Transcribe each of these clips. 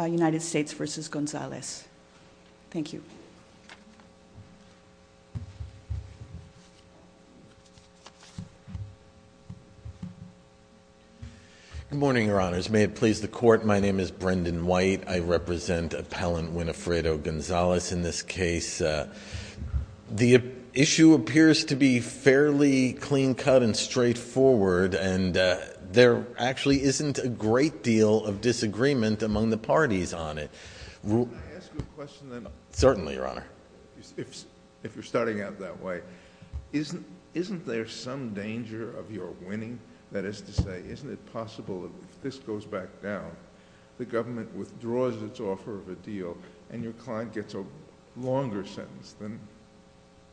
United States v. González. Thank you. Good morning, Your Honors. May it please the Court, my name is Brendan White. I represent Appellant Winifredo González in this case. The issue appears to be fairly clean-cut and straightforward and there actually isn't a great deal of disagreement among the parties on it. Can I ask you a question then? Certainly, Your Honor. If you're starting out that way, isn't there some danger of your winning? That is to say, isn't it possible if this goes back down, the government withdraws its offer of a deal and your client gets a longer sentence than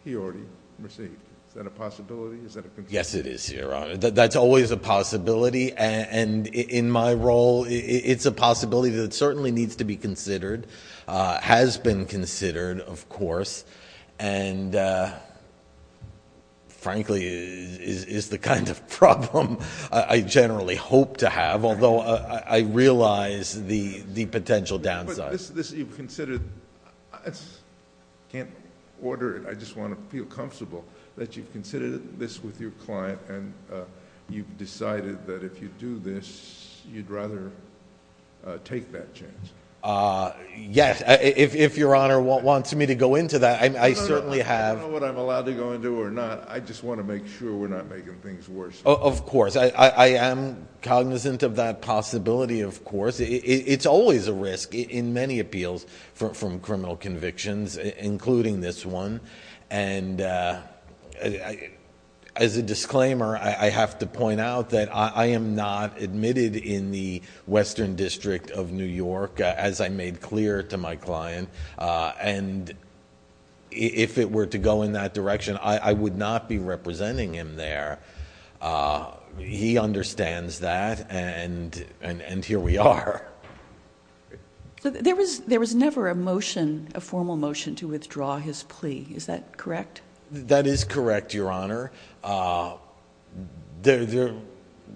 he already received? Is that a possibility? Is that a concern? Yes, it is, Your Honor. That's always a concern in my role. It's a possibility that certainly needs to be considered. It has been considered, of course, and frankly, it is the kind of problem I generally hope to have, although I realize the potential downside. I can't order it. I just want to feel comfortable that you've considered this with your client and you've decided you'd rather take that chance. Yes. If Your Honor wants me to go into that, I certainly have. I don't know what I'm allowed to go into or not. I just want to make sure we're not making things worse. Of course. I am cognizant of that possibility, of course. It's always a risk in many appeals from criminal convictions, including this one. As a disclaimer, I have to point out that I am not admitted in the Western District of New York, as I made clear to my client. If it were to go in that direction, I would not be representing him there. He understands that, and here we are. There was never a motion, a formal motion to withdraw his plea. Is that correct? That is correct, Your Honor.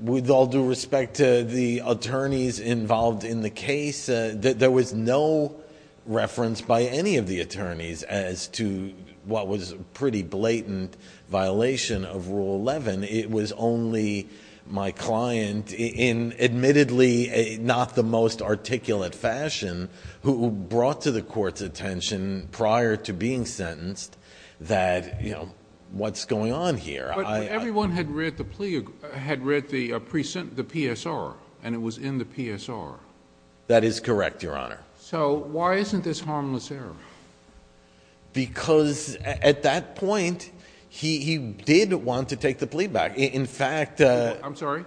With all due respect to the attorneys involved in the case, there was no reference by any of the attorneys as to what was a pretty blatant violation of Rule 11. It was only my client, in admittedly not the most articulate fashion, who brought to the court's attention prior to being sentenced that what's going on here. But everyone had read the plea had read the PSR, and it was in the PSR. That is correct, Your Honor. So why isn't this harmless error? Because at that point, he did want to take the plea back. I'm sorry?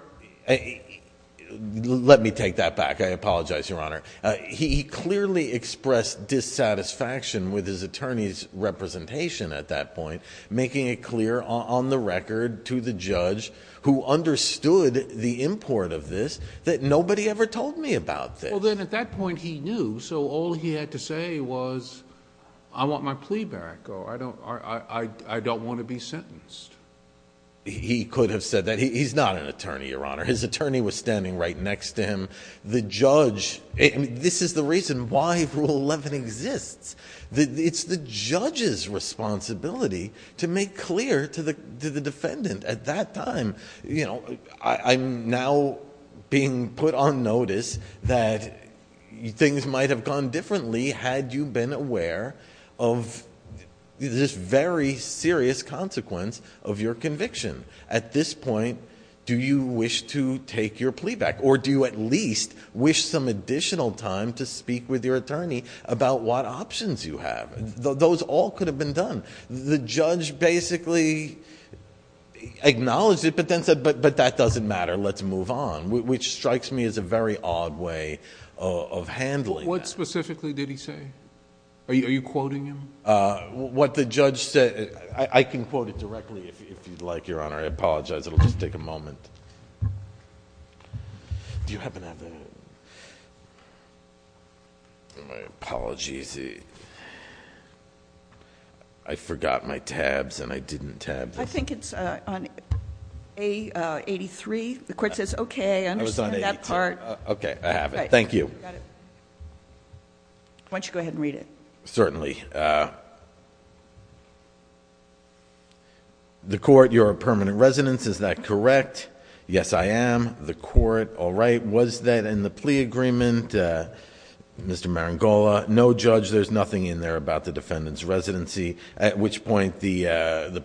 Let me take that back. I apologize, Your Honor. He clearly expressed dissatisfaction with his attorney's at that point, making it clear on the record to the judge who understood the import of this that nobody ever told me about this. Well, then at that point he knew, so all he had to say was I want my plea back, or I don't want to be sentenced. He could have said that. He's not an attorney, Your Honor. His attorney was standing right next to him. The judge this is the reason why Rule 11 exists. It's the judge's responsibility to make clear to the defendant at that time. I'm now being put on notice that things might have gone differently had you been aware of this very serious consequence of your conviction. At this point, do you wish to take your plea back, or do you at least wish some additional time to speak with your attorney about what options you have? Those all could have been done. The judge basically acknowledged it, but then said, but that doesn't matter. Let's move on, which strikes me as a very odd way of handling that. What specifically did he say? Are you quoting him? What the judge said I can quote it directly if you'd like, Your Honor. I apologize. It'll just take a moment. Do you happen to have the My apologies. I forgot my tabs, and I didn't tab. I think it's on A83. The court says, okay, I understand that part. Okay, I have it. Thank you. Why don't you go ahead and read it? Certainly. The court, you're a permanent resident. Is that correct? Yes, I am. The court, all right. Was that in the plea agreement, Mr. Marangola? No, judge. There's nothing in there about the defendant's residency, at which point the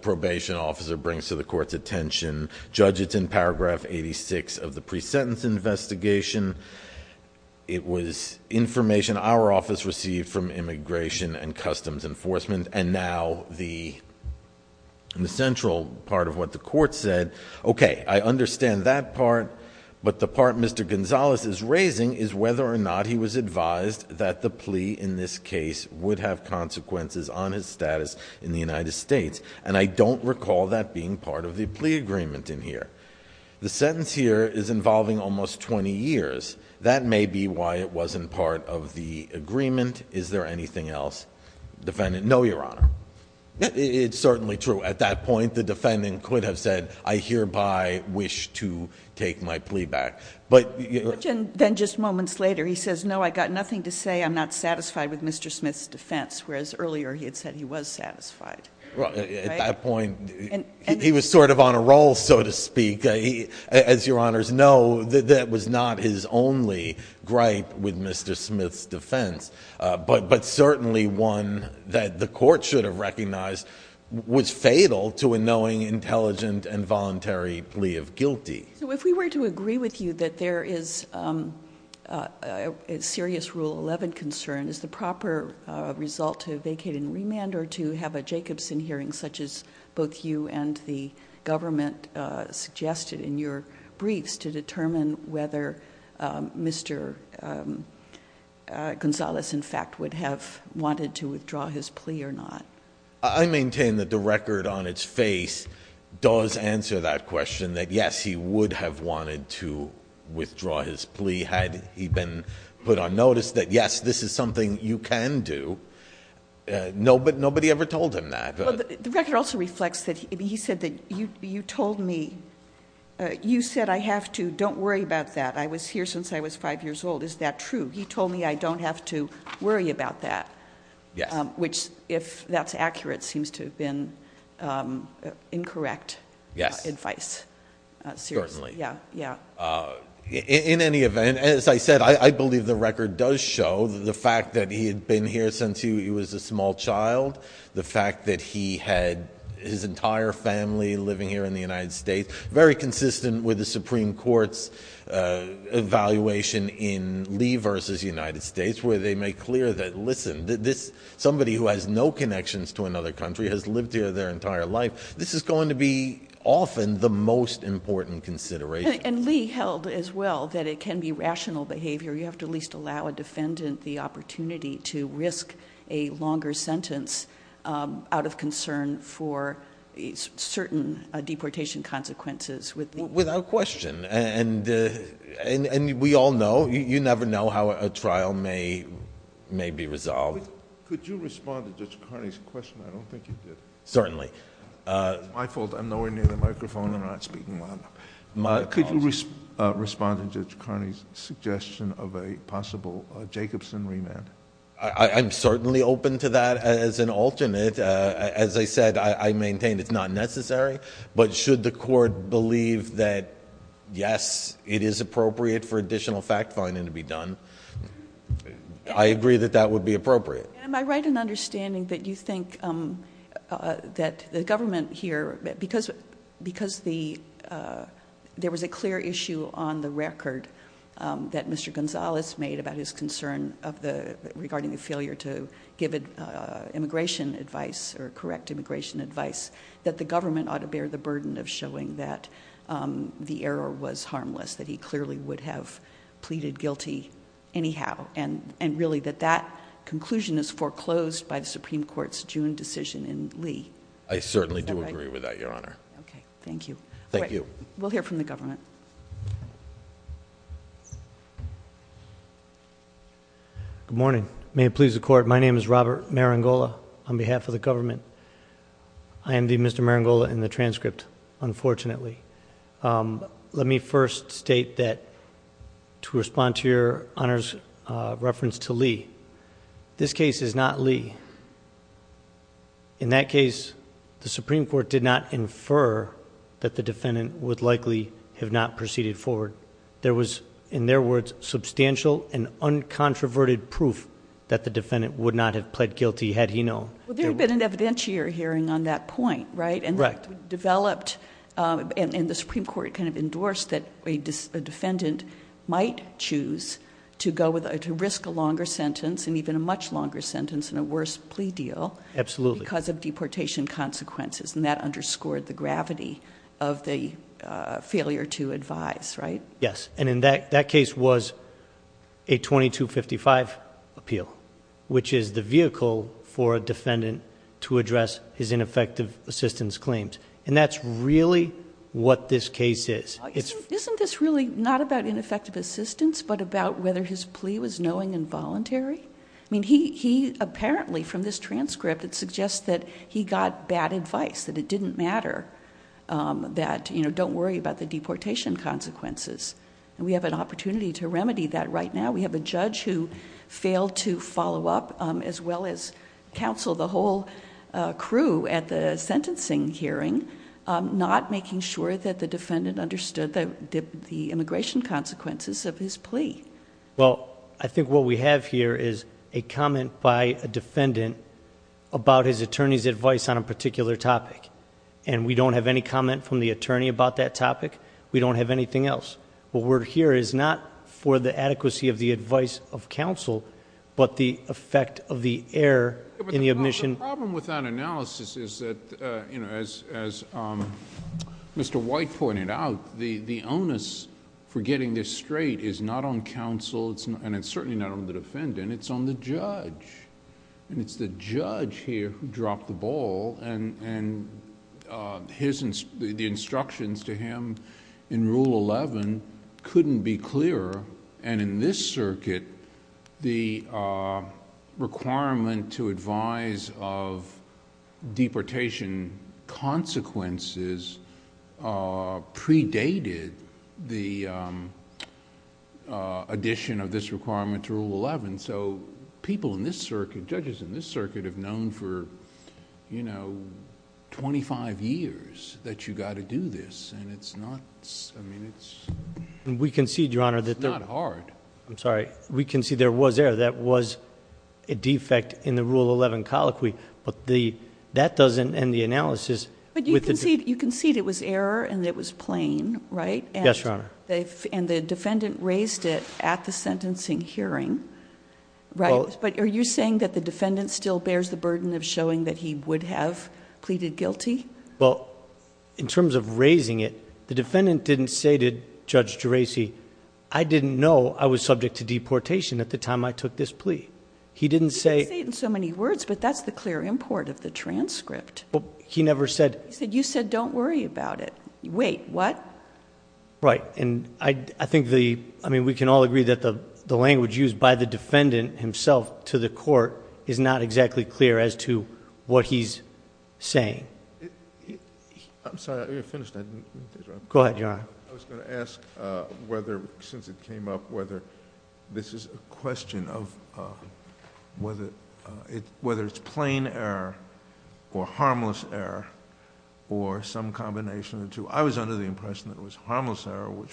probation officer brings to the court's attention. Judge, it's in paragraph 86 of the pre-sentence investigation. It was information our office received from Immigration and Customs Enforcement, and now the central part of what the court said. Okay, I understand that part, but the part Mr. Gonzalez is raising is whether or not he was advised that the plea in this case would have consequences on his status in the United States, and I don't recall that being part of the plea agreement in here. The sentence here is involving almost 20 years. That may be why it wasn't part of the agreement. Is there anything else, defendant? No, Your Honor. It's certainly true. At that point, the defendant could have said, I hereby wish to take my plea back. Then just moments later, he says, no, I got nothing to say. I'm not satisfied with Mr. Smith's defense, whereas earlier he had said he was satisfied. At that point, he was sort of on a roll, so to speak. As Your Honors know, that was not his only gripe with Mr. Smith's defense, but certainly one that the court should have recognized was fatal to a knowing, intelligent, and voluntary plea of guilty. So if we were to agree with you that there is a serious Rule 11 concern, is the proper result to vacate and remand or to have a Jacobson hearing such as both you and the government suggested in your briefs to determine whether Mr. Gonzalez, in fact, would have wanted to withdraw his plea or not? I maintain that the record on its face does answer that question, that yes, he would have wanted to withdraw his plea had he been put on notice that yes, this is something you can do. Nobody ever told him that. The record also reflects that he said that you told me, you said I have to. Don't worry about that. I was here since I was five years old. Is that true? He told me I don't have to worry about that, which, if that's accurate, seems to have been incorrect advice. In any event, as I said, I believe the record does show the fact that he had been here since he was a small child, the fact that he had his entire family living here in the United States, very consistent with the Supreme Court's evaluation in Lee v. United States, where they make clear that, listen, somebody who has no connections to another country has lived here their entire life. This is going to be often the most important consideration. And Lee held as well that it can be rational behavior. You have to at least allow a defendant the opportunity to risk a longer sentence out of concern for certain deportation consequences. Without question. And we all know, you never know how a trial may be resolved. Could you respond to Judge Carney's question? I don't think you did. Certainly. It's my fault. I'm nowhere near the microphone and I'm not speaking loud enough. Could you respond to Judge Carney's suggestion of a possible Jacobson remand? I'm certainly open to that as an alternate. As I said, I maintain it's not necessary. But should the court believe that, yes, it is appropriate for additional fact-finding to be done, I agree that that would be appropriate. Am I right in understanding that you think that the government here, because there was a clear issue on the record that Mr. Gonzalez made about his concern regarding the failure to give the verdict? is a clear indication that the government is not willing to consider the burden of showing that the error was harmless. That he clearly would have pleaded guilty anyhow. And really, that that conclusion is foreclosed by the Supreme Court's June decision in Lee. I certainly do agree with that, Your Honor. Thank you. We'll hear from the government. Good morning. May it please the Court, my name is Robert Marangola on behalf of the government. I am the Mr. Marangola in the transcript, unfortunately. Let me first state that to respond to Your Honor's reference to Lee, this case is not Lee. In that case, the Supreme Court did not infer that the defendant would likely have not proceeded forward. There was, in their words, substantial and uncontroverted proof that the defendant would not have pled guilty had he known. Well, there had been an evidentiary hearing on that point, right? Correct. And the Supreme Court endorsed that a defendant might choose to risk a longer sentence and even a much longer sentence and a worse plea deal because of deportation consequences. And that underscored the gravity of the failure to advise, right? Yes. And in that case was a 2255 appeal, which is the vehicle for a defendant to address his ineffective assistance claims. And that's really what this case is. Isn't this really not about ineffective assistance but about whether his plea was knowing and voluntary? I mean, he apparently, from this transcript, it suggests that he got bad advice, that it didn't matter, that don't worry about the deportation consequences. And we have an opportunity to remedy that right now. We have a judge who failed to follow up as well as counsel the whole crew at the sentencing hearing, not making sure that the defendant understood the immigration consequences of his plea. Well, I think what we have here is a comment by a defendant about his attorney's advice on a particular topic. And we don't have any comment from the attorney about that topic. We don't have anything else. What we're hearing is not for the adequacy of the advice of counsel, but the effect of the error in the admission... The problem with that analysis is that, as Mr. White pointed out, the onus for getting this straight is not on counsel, and it's certainly not on the defendant, it's on the judge. And it's the judge here who dropped the ball, and the instructions to him in Rule 11 couldn't be clearer. And in this circuit, the requirement to advise of deportation consequences predated the addition of this requirement to Rule 11, so people in this circuit, judges in this circuit, have known for twenty-five years that you've got to do this, and it's not... I mean, it's... It's not hard. I'm sorry. We can see there was error. That was a defect in the Rule 11 colloquy, but that doesn't end the analysis. But you concede it was error and it was plain, right? Yes, Your Honor. And the defendant raised it at the sentencing hearing, right? But are you saying that the defendant still bears the burden of showing that he would have pleaded guilty? Well, in terms of raising it, the defendant didn't say to Judge Geraci, I didn't know I was subject to deportation at the time I took this plea. He didn't say... He didn't say it in so many words, but that's the clear import of the transcript. Well, he never said... He said, you said don't worry about it. Wait, what? Right. And I think the... I mean, we can all agree that the language used by the defendant himself to the court is not exactly clear as to what he's saying. I'm sorry. I finished. I didn't... Go ahead, Your Honor. I was going to ask whether, since it came up, whether this is a question of whether it's plain error or harmless error or some combination of the two. I was under the impression that it was harmless error, which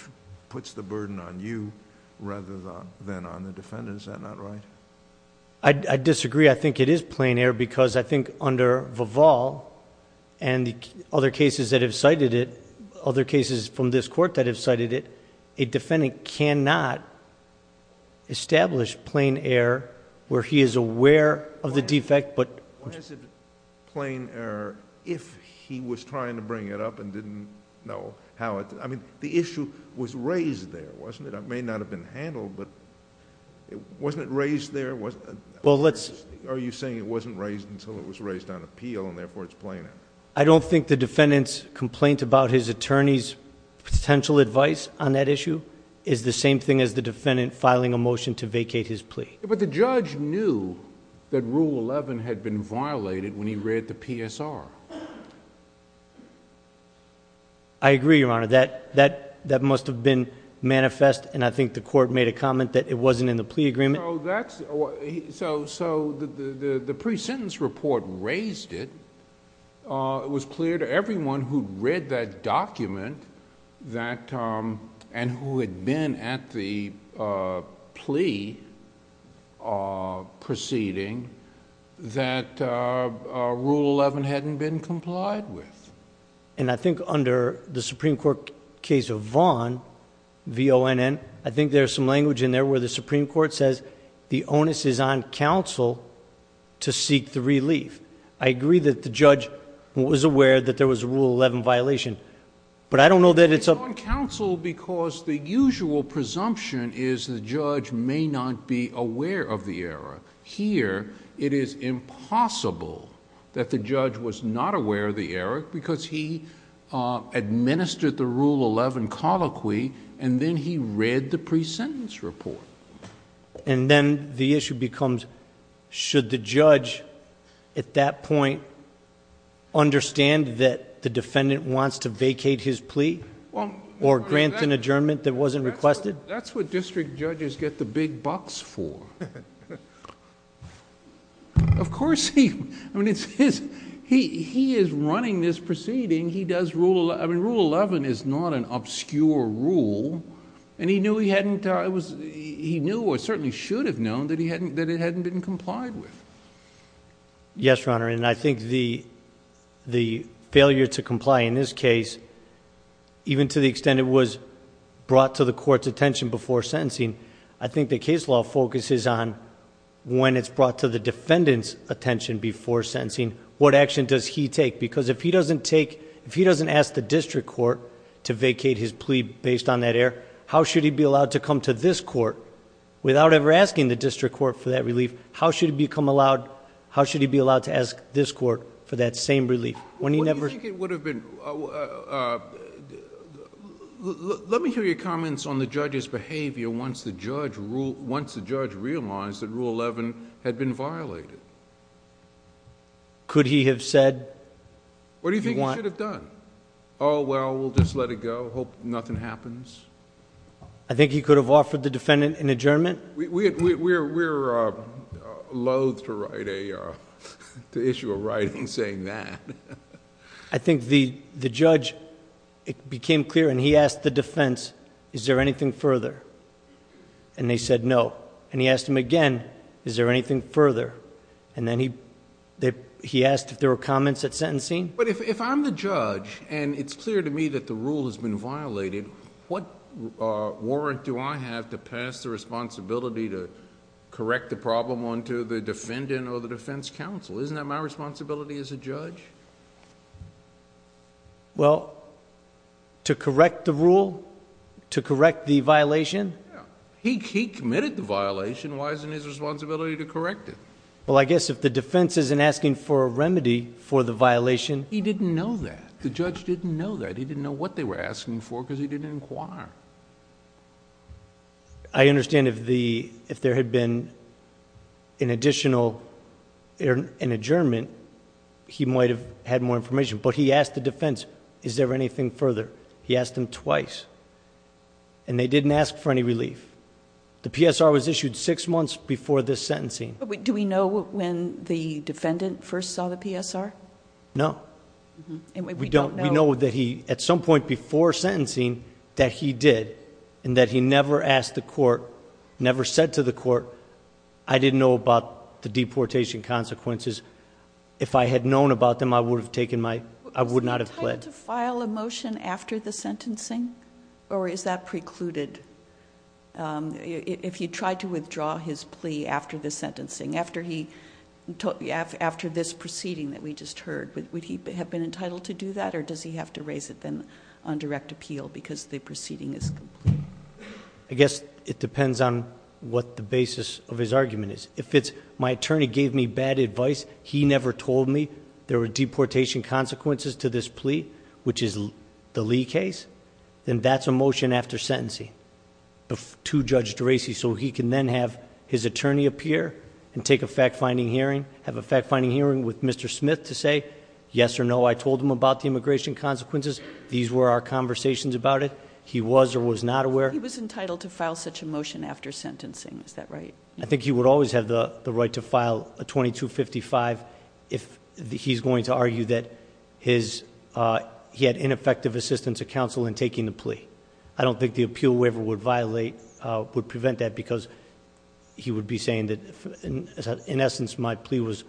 puts the burden on you rather than on the defendant. Is that not right? I disagree. I think it is plain error because I think under Vival and other cases that have cited it, other cases from this court that have cited it, a where he is aware of the defect, but... Why is it plain error if he was trying to bring it up and didn't know how it... I mean, the issue was raised there, wasn't it? It may not have been handled, but wasn't it raised there? Well, let's... Are you saying it wasn't raised until it was raised on appeal and therefore it's plain error? I don't think the defendant's complaint about his attorney's potential advice on that issue is the same thing as the defendant filing a motion to appeal. But the judge knew that Rule 11 had been violated when he read the PSR. I agree, Your Honor. That must have been manifest, and I think the court made a comment that it wasn't in the plea agreement. So the pre-sentence report raised it. It was clear to everyone who read that proceeding that Rule 11 hadn't been complied with. I think under the Supreme Court case of Vaughn, V-O-N-N, I think there's some language in there where the Supreme Court says the onus is on counsel to seek the relief. I agree that the judge was aware that there was a Rule 11 violation, but I don't know that it's... It's on counsel because the usual presumption is the judge may not be aware of the error. Here, it is impossible that the judge was not aware of the error because he administered the Rule 11 colloquy and then he read the pre-sentence report. Then the issue becomes, should the judge at that point understand that the defendant wants to vacate his plea or grant an adjournment that wasn't requested? That's what district judges get the big bucks for. Of course, he is running this proceeding. He does Rule 11. Rule 11 is not an obscure rule and he knew or certainly should have known that it hadn't been complied with. Yes, Your Honor, and I think the failure to comply in this case, even to the attention before sentencing, I think the case law focuses on when it's brought to the defendant's attention before sentencing, what action does he take? Because if he doesn't take... if he doesn't ask the district court to vacate his plea based on that error, how should he be allowed to come to this court without ever asking the district court for that relief? How should he be allowed to ask this court for that same relief? Let me hear your comments on the judge's behavior once the judge realized that Rule 11 had been violated. Could he have said... What do you think he should have done? Oh, well, we'll just let it go, hope nothing happens? I think he could have offered the defendant an adjournment. We're loath to write a... to issue a writing saying that. I think the judge, it became clear and he asked the defense, is there anything further? And they said no. And he asked him again, is there anything further? And then he asked if there were comments at sentencing. But if I'm the judge and it's clear to me that the rule has been violated, what warrant do I have to pass the responsibility to correct the problem onto the defendant or the defense counsel? Isn't that my responsibility as a judge? Well, to correct the rule? To correct the violation? Yeah. He committed the violation. Why isn't it his responsibility to correct it? Well, I guess if the defense isn't asking for a remedy for the violation... He didn't know that. The judge didn't know that. That's because he didn't inquire. I understand if there had been an additional... an adjournment, he might have had more information. But he asked the defense, is there anything further? He asked him twice. And they didn't ask for any relief. The PSR was issued six months before this sentencing. Do we know when the defendant first saw the PSR? No. We know that he, at some point before sentencing, that he did, and that he never asked the court, never said to the court, I didn't know about the deportation consequences. If I had known about them, I would have taken my... I would not have pled. Was it time to file a motion after the sentencing? Or is that precluded? If he tried to withdraw his plea after the sentencing, after this proceeding that we just heard, would he have been entitled to do that? Or does he have to raise it then on direct appeal because the proceeding is complete? I guess it depends on what the basis of his argument is. If it's, my attorney gave me bad advice, he never told me there were deportation consequences to this plea, which is the Lee case, then that's a motion after sentencing to Judge DeRacy, so he can then have his attorney appear and take a fact-finding hearing, have a fact-finding hearing with Mr. Smith to say, yes or no, I told him about the immigration consequences. These were our conversations about it. He was or was not aware. He was entitled to file such a motion after sentencing. Is that right? I think he would always have the right to file a 2255 if he's going to argue that his... he had ineffective assistance of counsel in taking the plea. I don't think the appeal waiver would violate, would prevent that, because he would be saying that, in essence, my plea was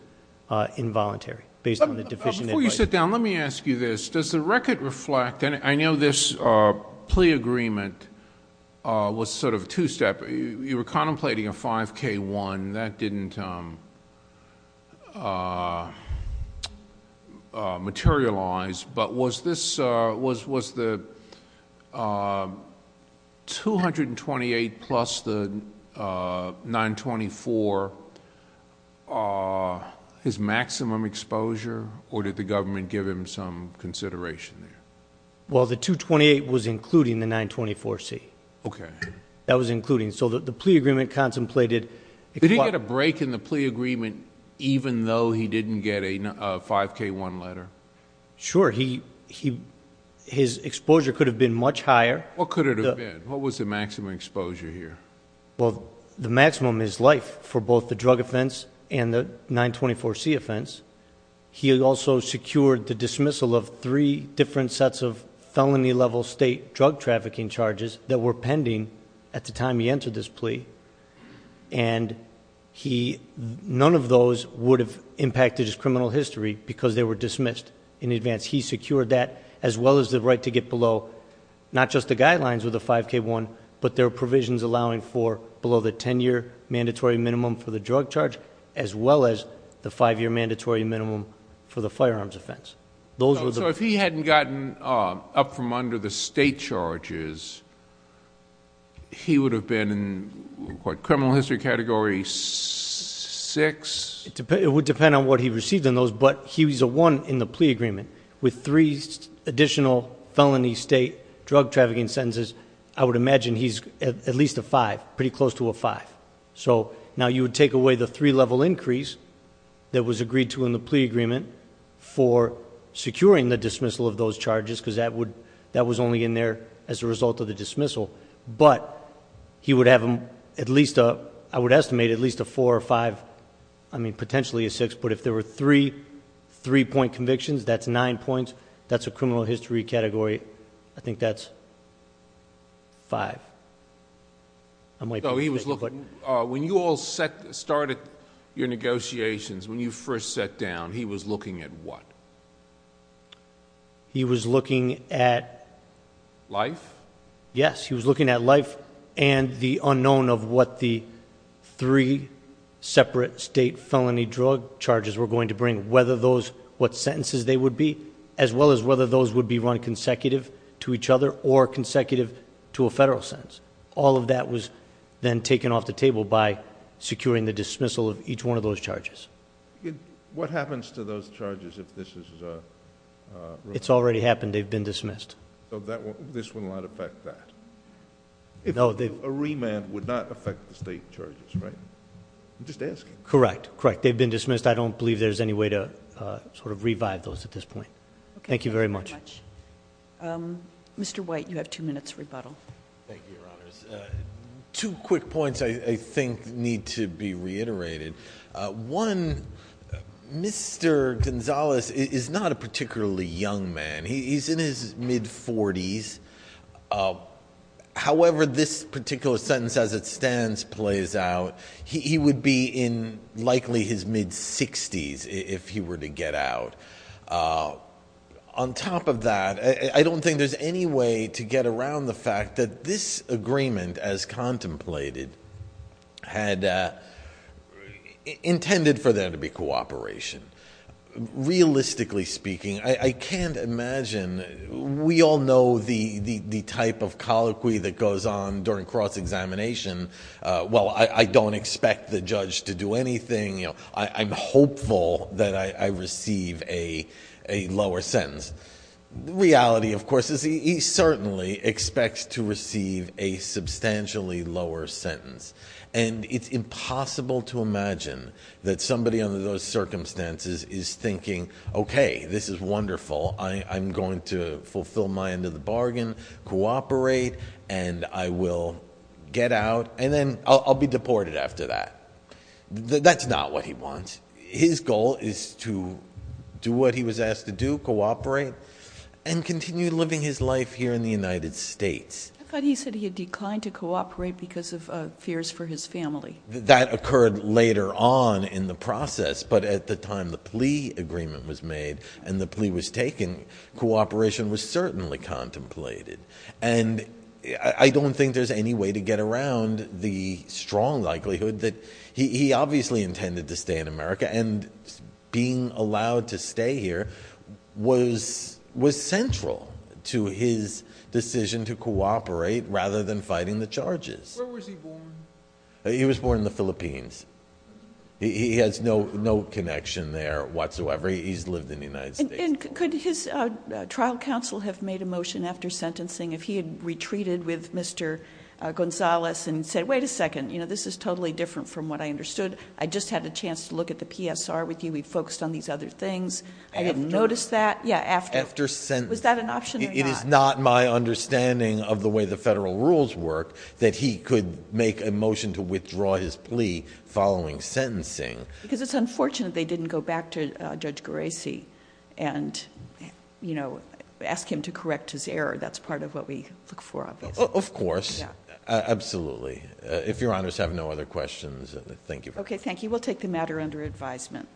involuntary based on the deficient advice. Before you sit down, let me ask you this. Does the record reflect, and I know this plea agreement was sort of two-step. You were contemplating a 5K1. That didn't materialize, but was the 228 plus the 924 his maximum exposure, or did the government give him some consideration there? Well, the 228 was including the 924C. Okay. That was including. So the plea agreement contemplated... Did he get a break in the plea agreement even though he didn't get a 5K1 letter? Sure. His exposure could have been much higher. What could it have been? What was the maximum exposure here? Well, the maximum is life for both the drug offense and the 924C offense. He also secured the dismissal of three different sets of felony-level state drug trafficking charges that were pending at the time he entered this plea. And none of those would have impacted his criminal history because they were dismissed in advance. He secured that, as well as the right to get below not just the guidelines with the 5K1, but their provisions allowing for below the ten-year mandatory minimum for the drug charge, as well as the five-year mandatory minimum for the firearms offense. So if he hadn't gotten up from under the state charges, he would have been in what, criminal history category 6? It would depend on what he received in those, but he was a 1 in the plea agreement. With three additional felony state drug trafficking sentences, I would imagine he's at least a 5, pretty close to a 5. So now you would take away the three-level increase that was agreed to in the plea agreement for securing the dismissal of those charges because that was only in there as a result of the dismissal. But he would have at least, I would estimate, at least a 4 or 5, I mean, potentially a 6. But if there were three three-point convictions, that's nine points. That's a criminal history category. I think that's 5. When you all started your negotiations, when you first sat down, he was looking at what? He was looking at- Life? Yes, he was looking at life and the unknown of what the three separate state felony drug charges were going to bring, whether those, what sentences they would be, as well as whether those would be run consecutive to each other or consecutive to a federal sentence. All of that was then taken off the table by securing the dismissal of each one of those charges. What happens to those charges if this is removed? It's already happened. They've been dismissed. So this will not affect that? No. A remand would not affect the state charges, right? I'm just asking. Correct. Correct. They've been dismissed. I don't believe there's any way to sort of revive those at this point. Okay. Thank you very much. Thank you very much. Mr. White, you have two minutes rebuttal. Thank you, Your Honors. Two quick points I think need to be reiterated. One, Mr. Gonzales is not a particularly young man. He's in his mid-40s. However this particular sentence as it stands plays out, he would be in likely his mid-60s if he were to get out. On top of that, I don't think there's any way to get around the fact that this agreement, as contemplated, had intended for there to be cooperation. Realistically speaking, I can't imagine... We all know the type of colloquy that goes on during cross-examination. Well, I don't expect the judge to do anything. I'm hopeful that I receive a lower sentence. The reality, of course, is he certainly expects to receive a substantially lower sentence. And it's impossible to imagine that somebody under those circumstances is thinking, okay, this is wonderful. I'm going to fulfill my end of the bargain, cooperate, and I will get out. And then I'll be deported after that. That's not what he wants. His goal is to do what he was asked to do, cooperate, and continue living his life here in the United States. I thought he said he had declined to cooperate because of fears for his family. That occurred later on in the process. But at the time the plea agreement was made and the plea was taken, cooperation was certainly contemplated. And I don't think there's any way to get around the strong likelihood that... He obviously intended to stay in America, and being allowed to stay here was central to his decision to cooperate rather than fighting the charges. Where was he born? He was born in the Philippines. He has no connection there whatsoever. He's lived in the United States. And could his trial counsel have made a motion after sentencing if he had retreated with Mr. Gonzalez and said, Wait a second. This is totally different from what I understood. I just had a chance to look at the PSR with you. We focused on these other things. I didn't notice that. Yeah, after... After sentencing. Was that an option or not? It is not my understanding of the way the federal rules work that he could make a motion to withdraw his plea following sentencing. Because it's unfortunate they didn't go back to Judge Gerasi and ask him to correct his error. That's part of what we look for, obviously. Of course. Absolutely. If Your Honors have no other questions, thank you. Okay, thank you. We'll take the matter under advisement.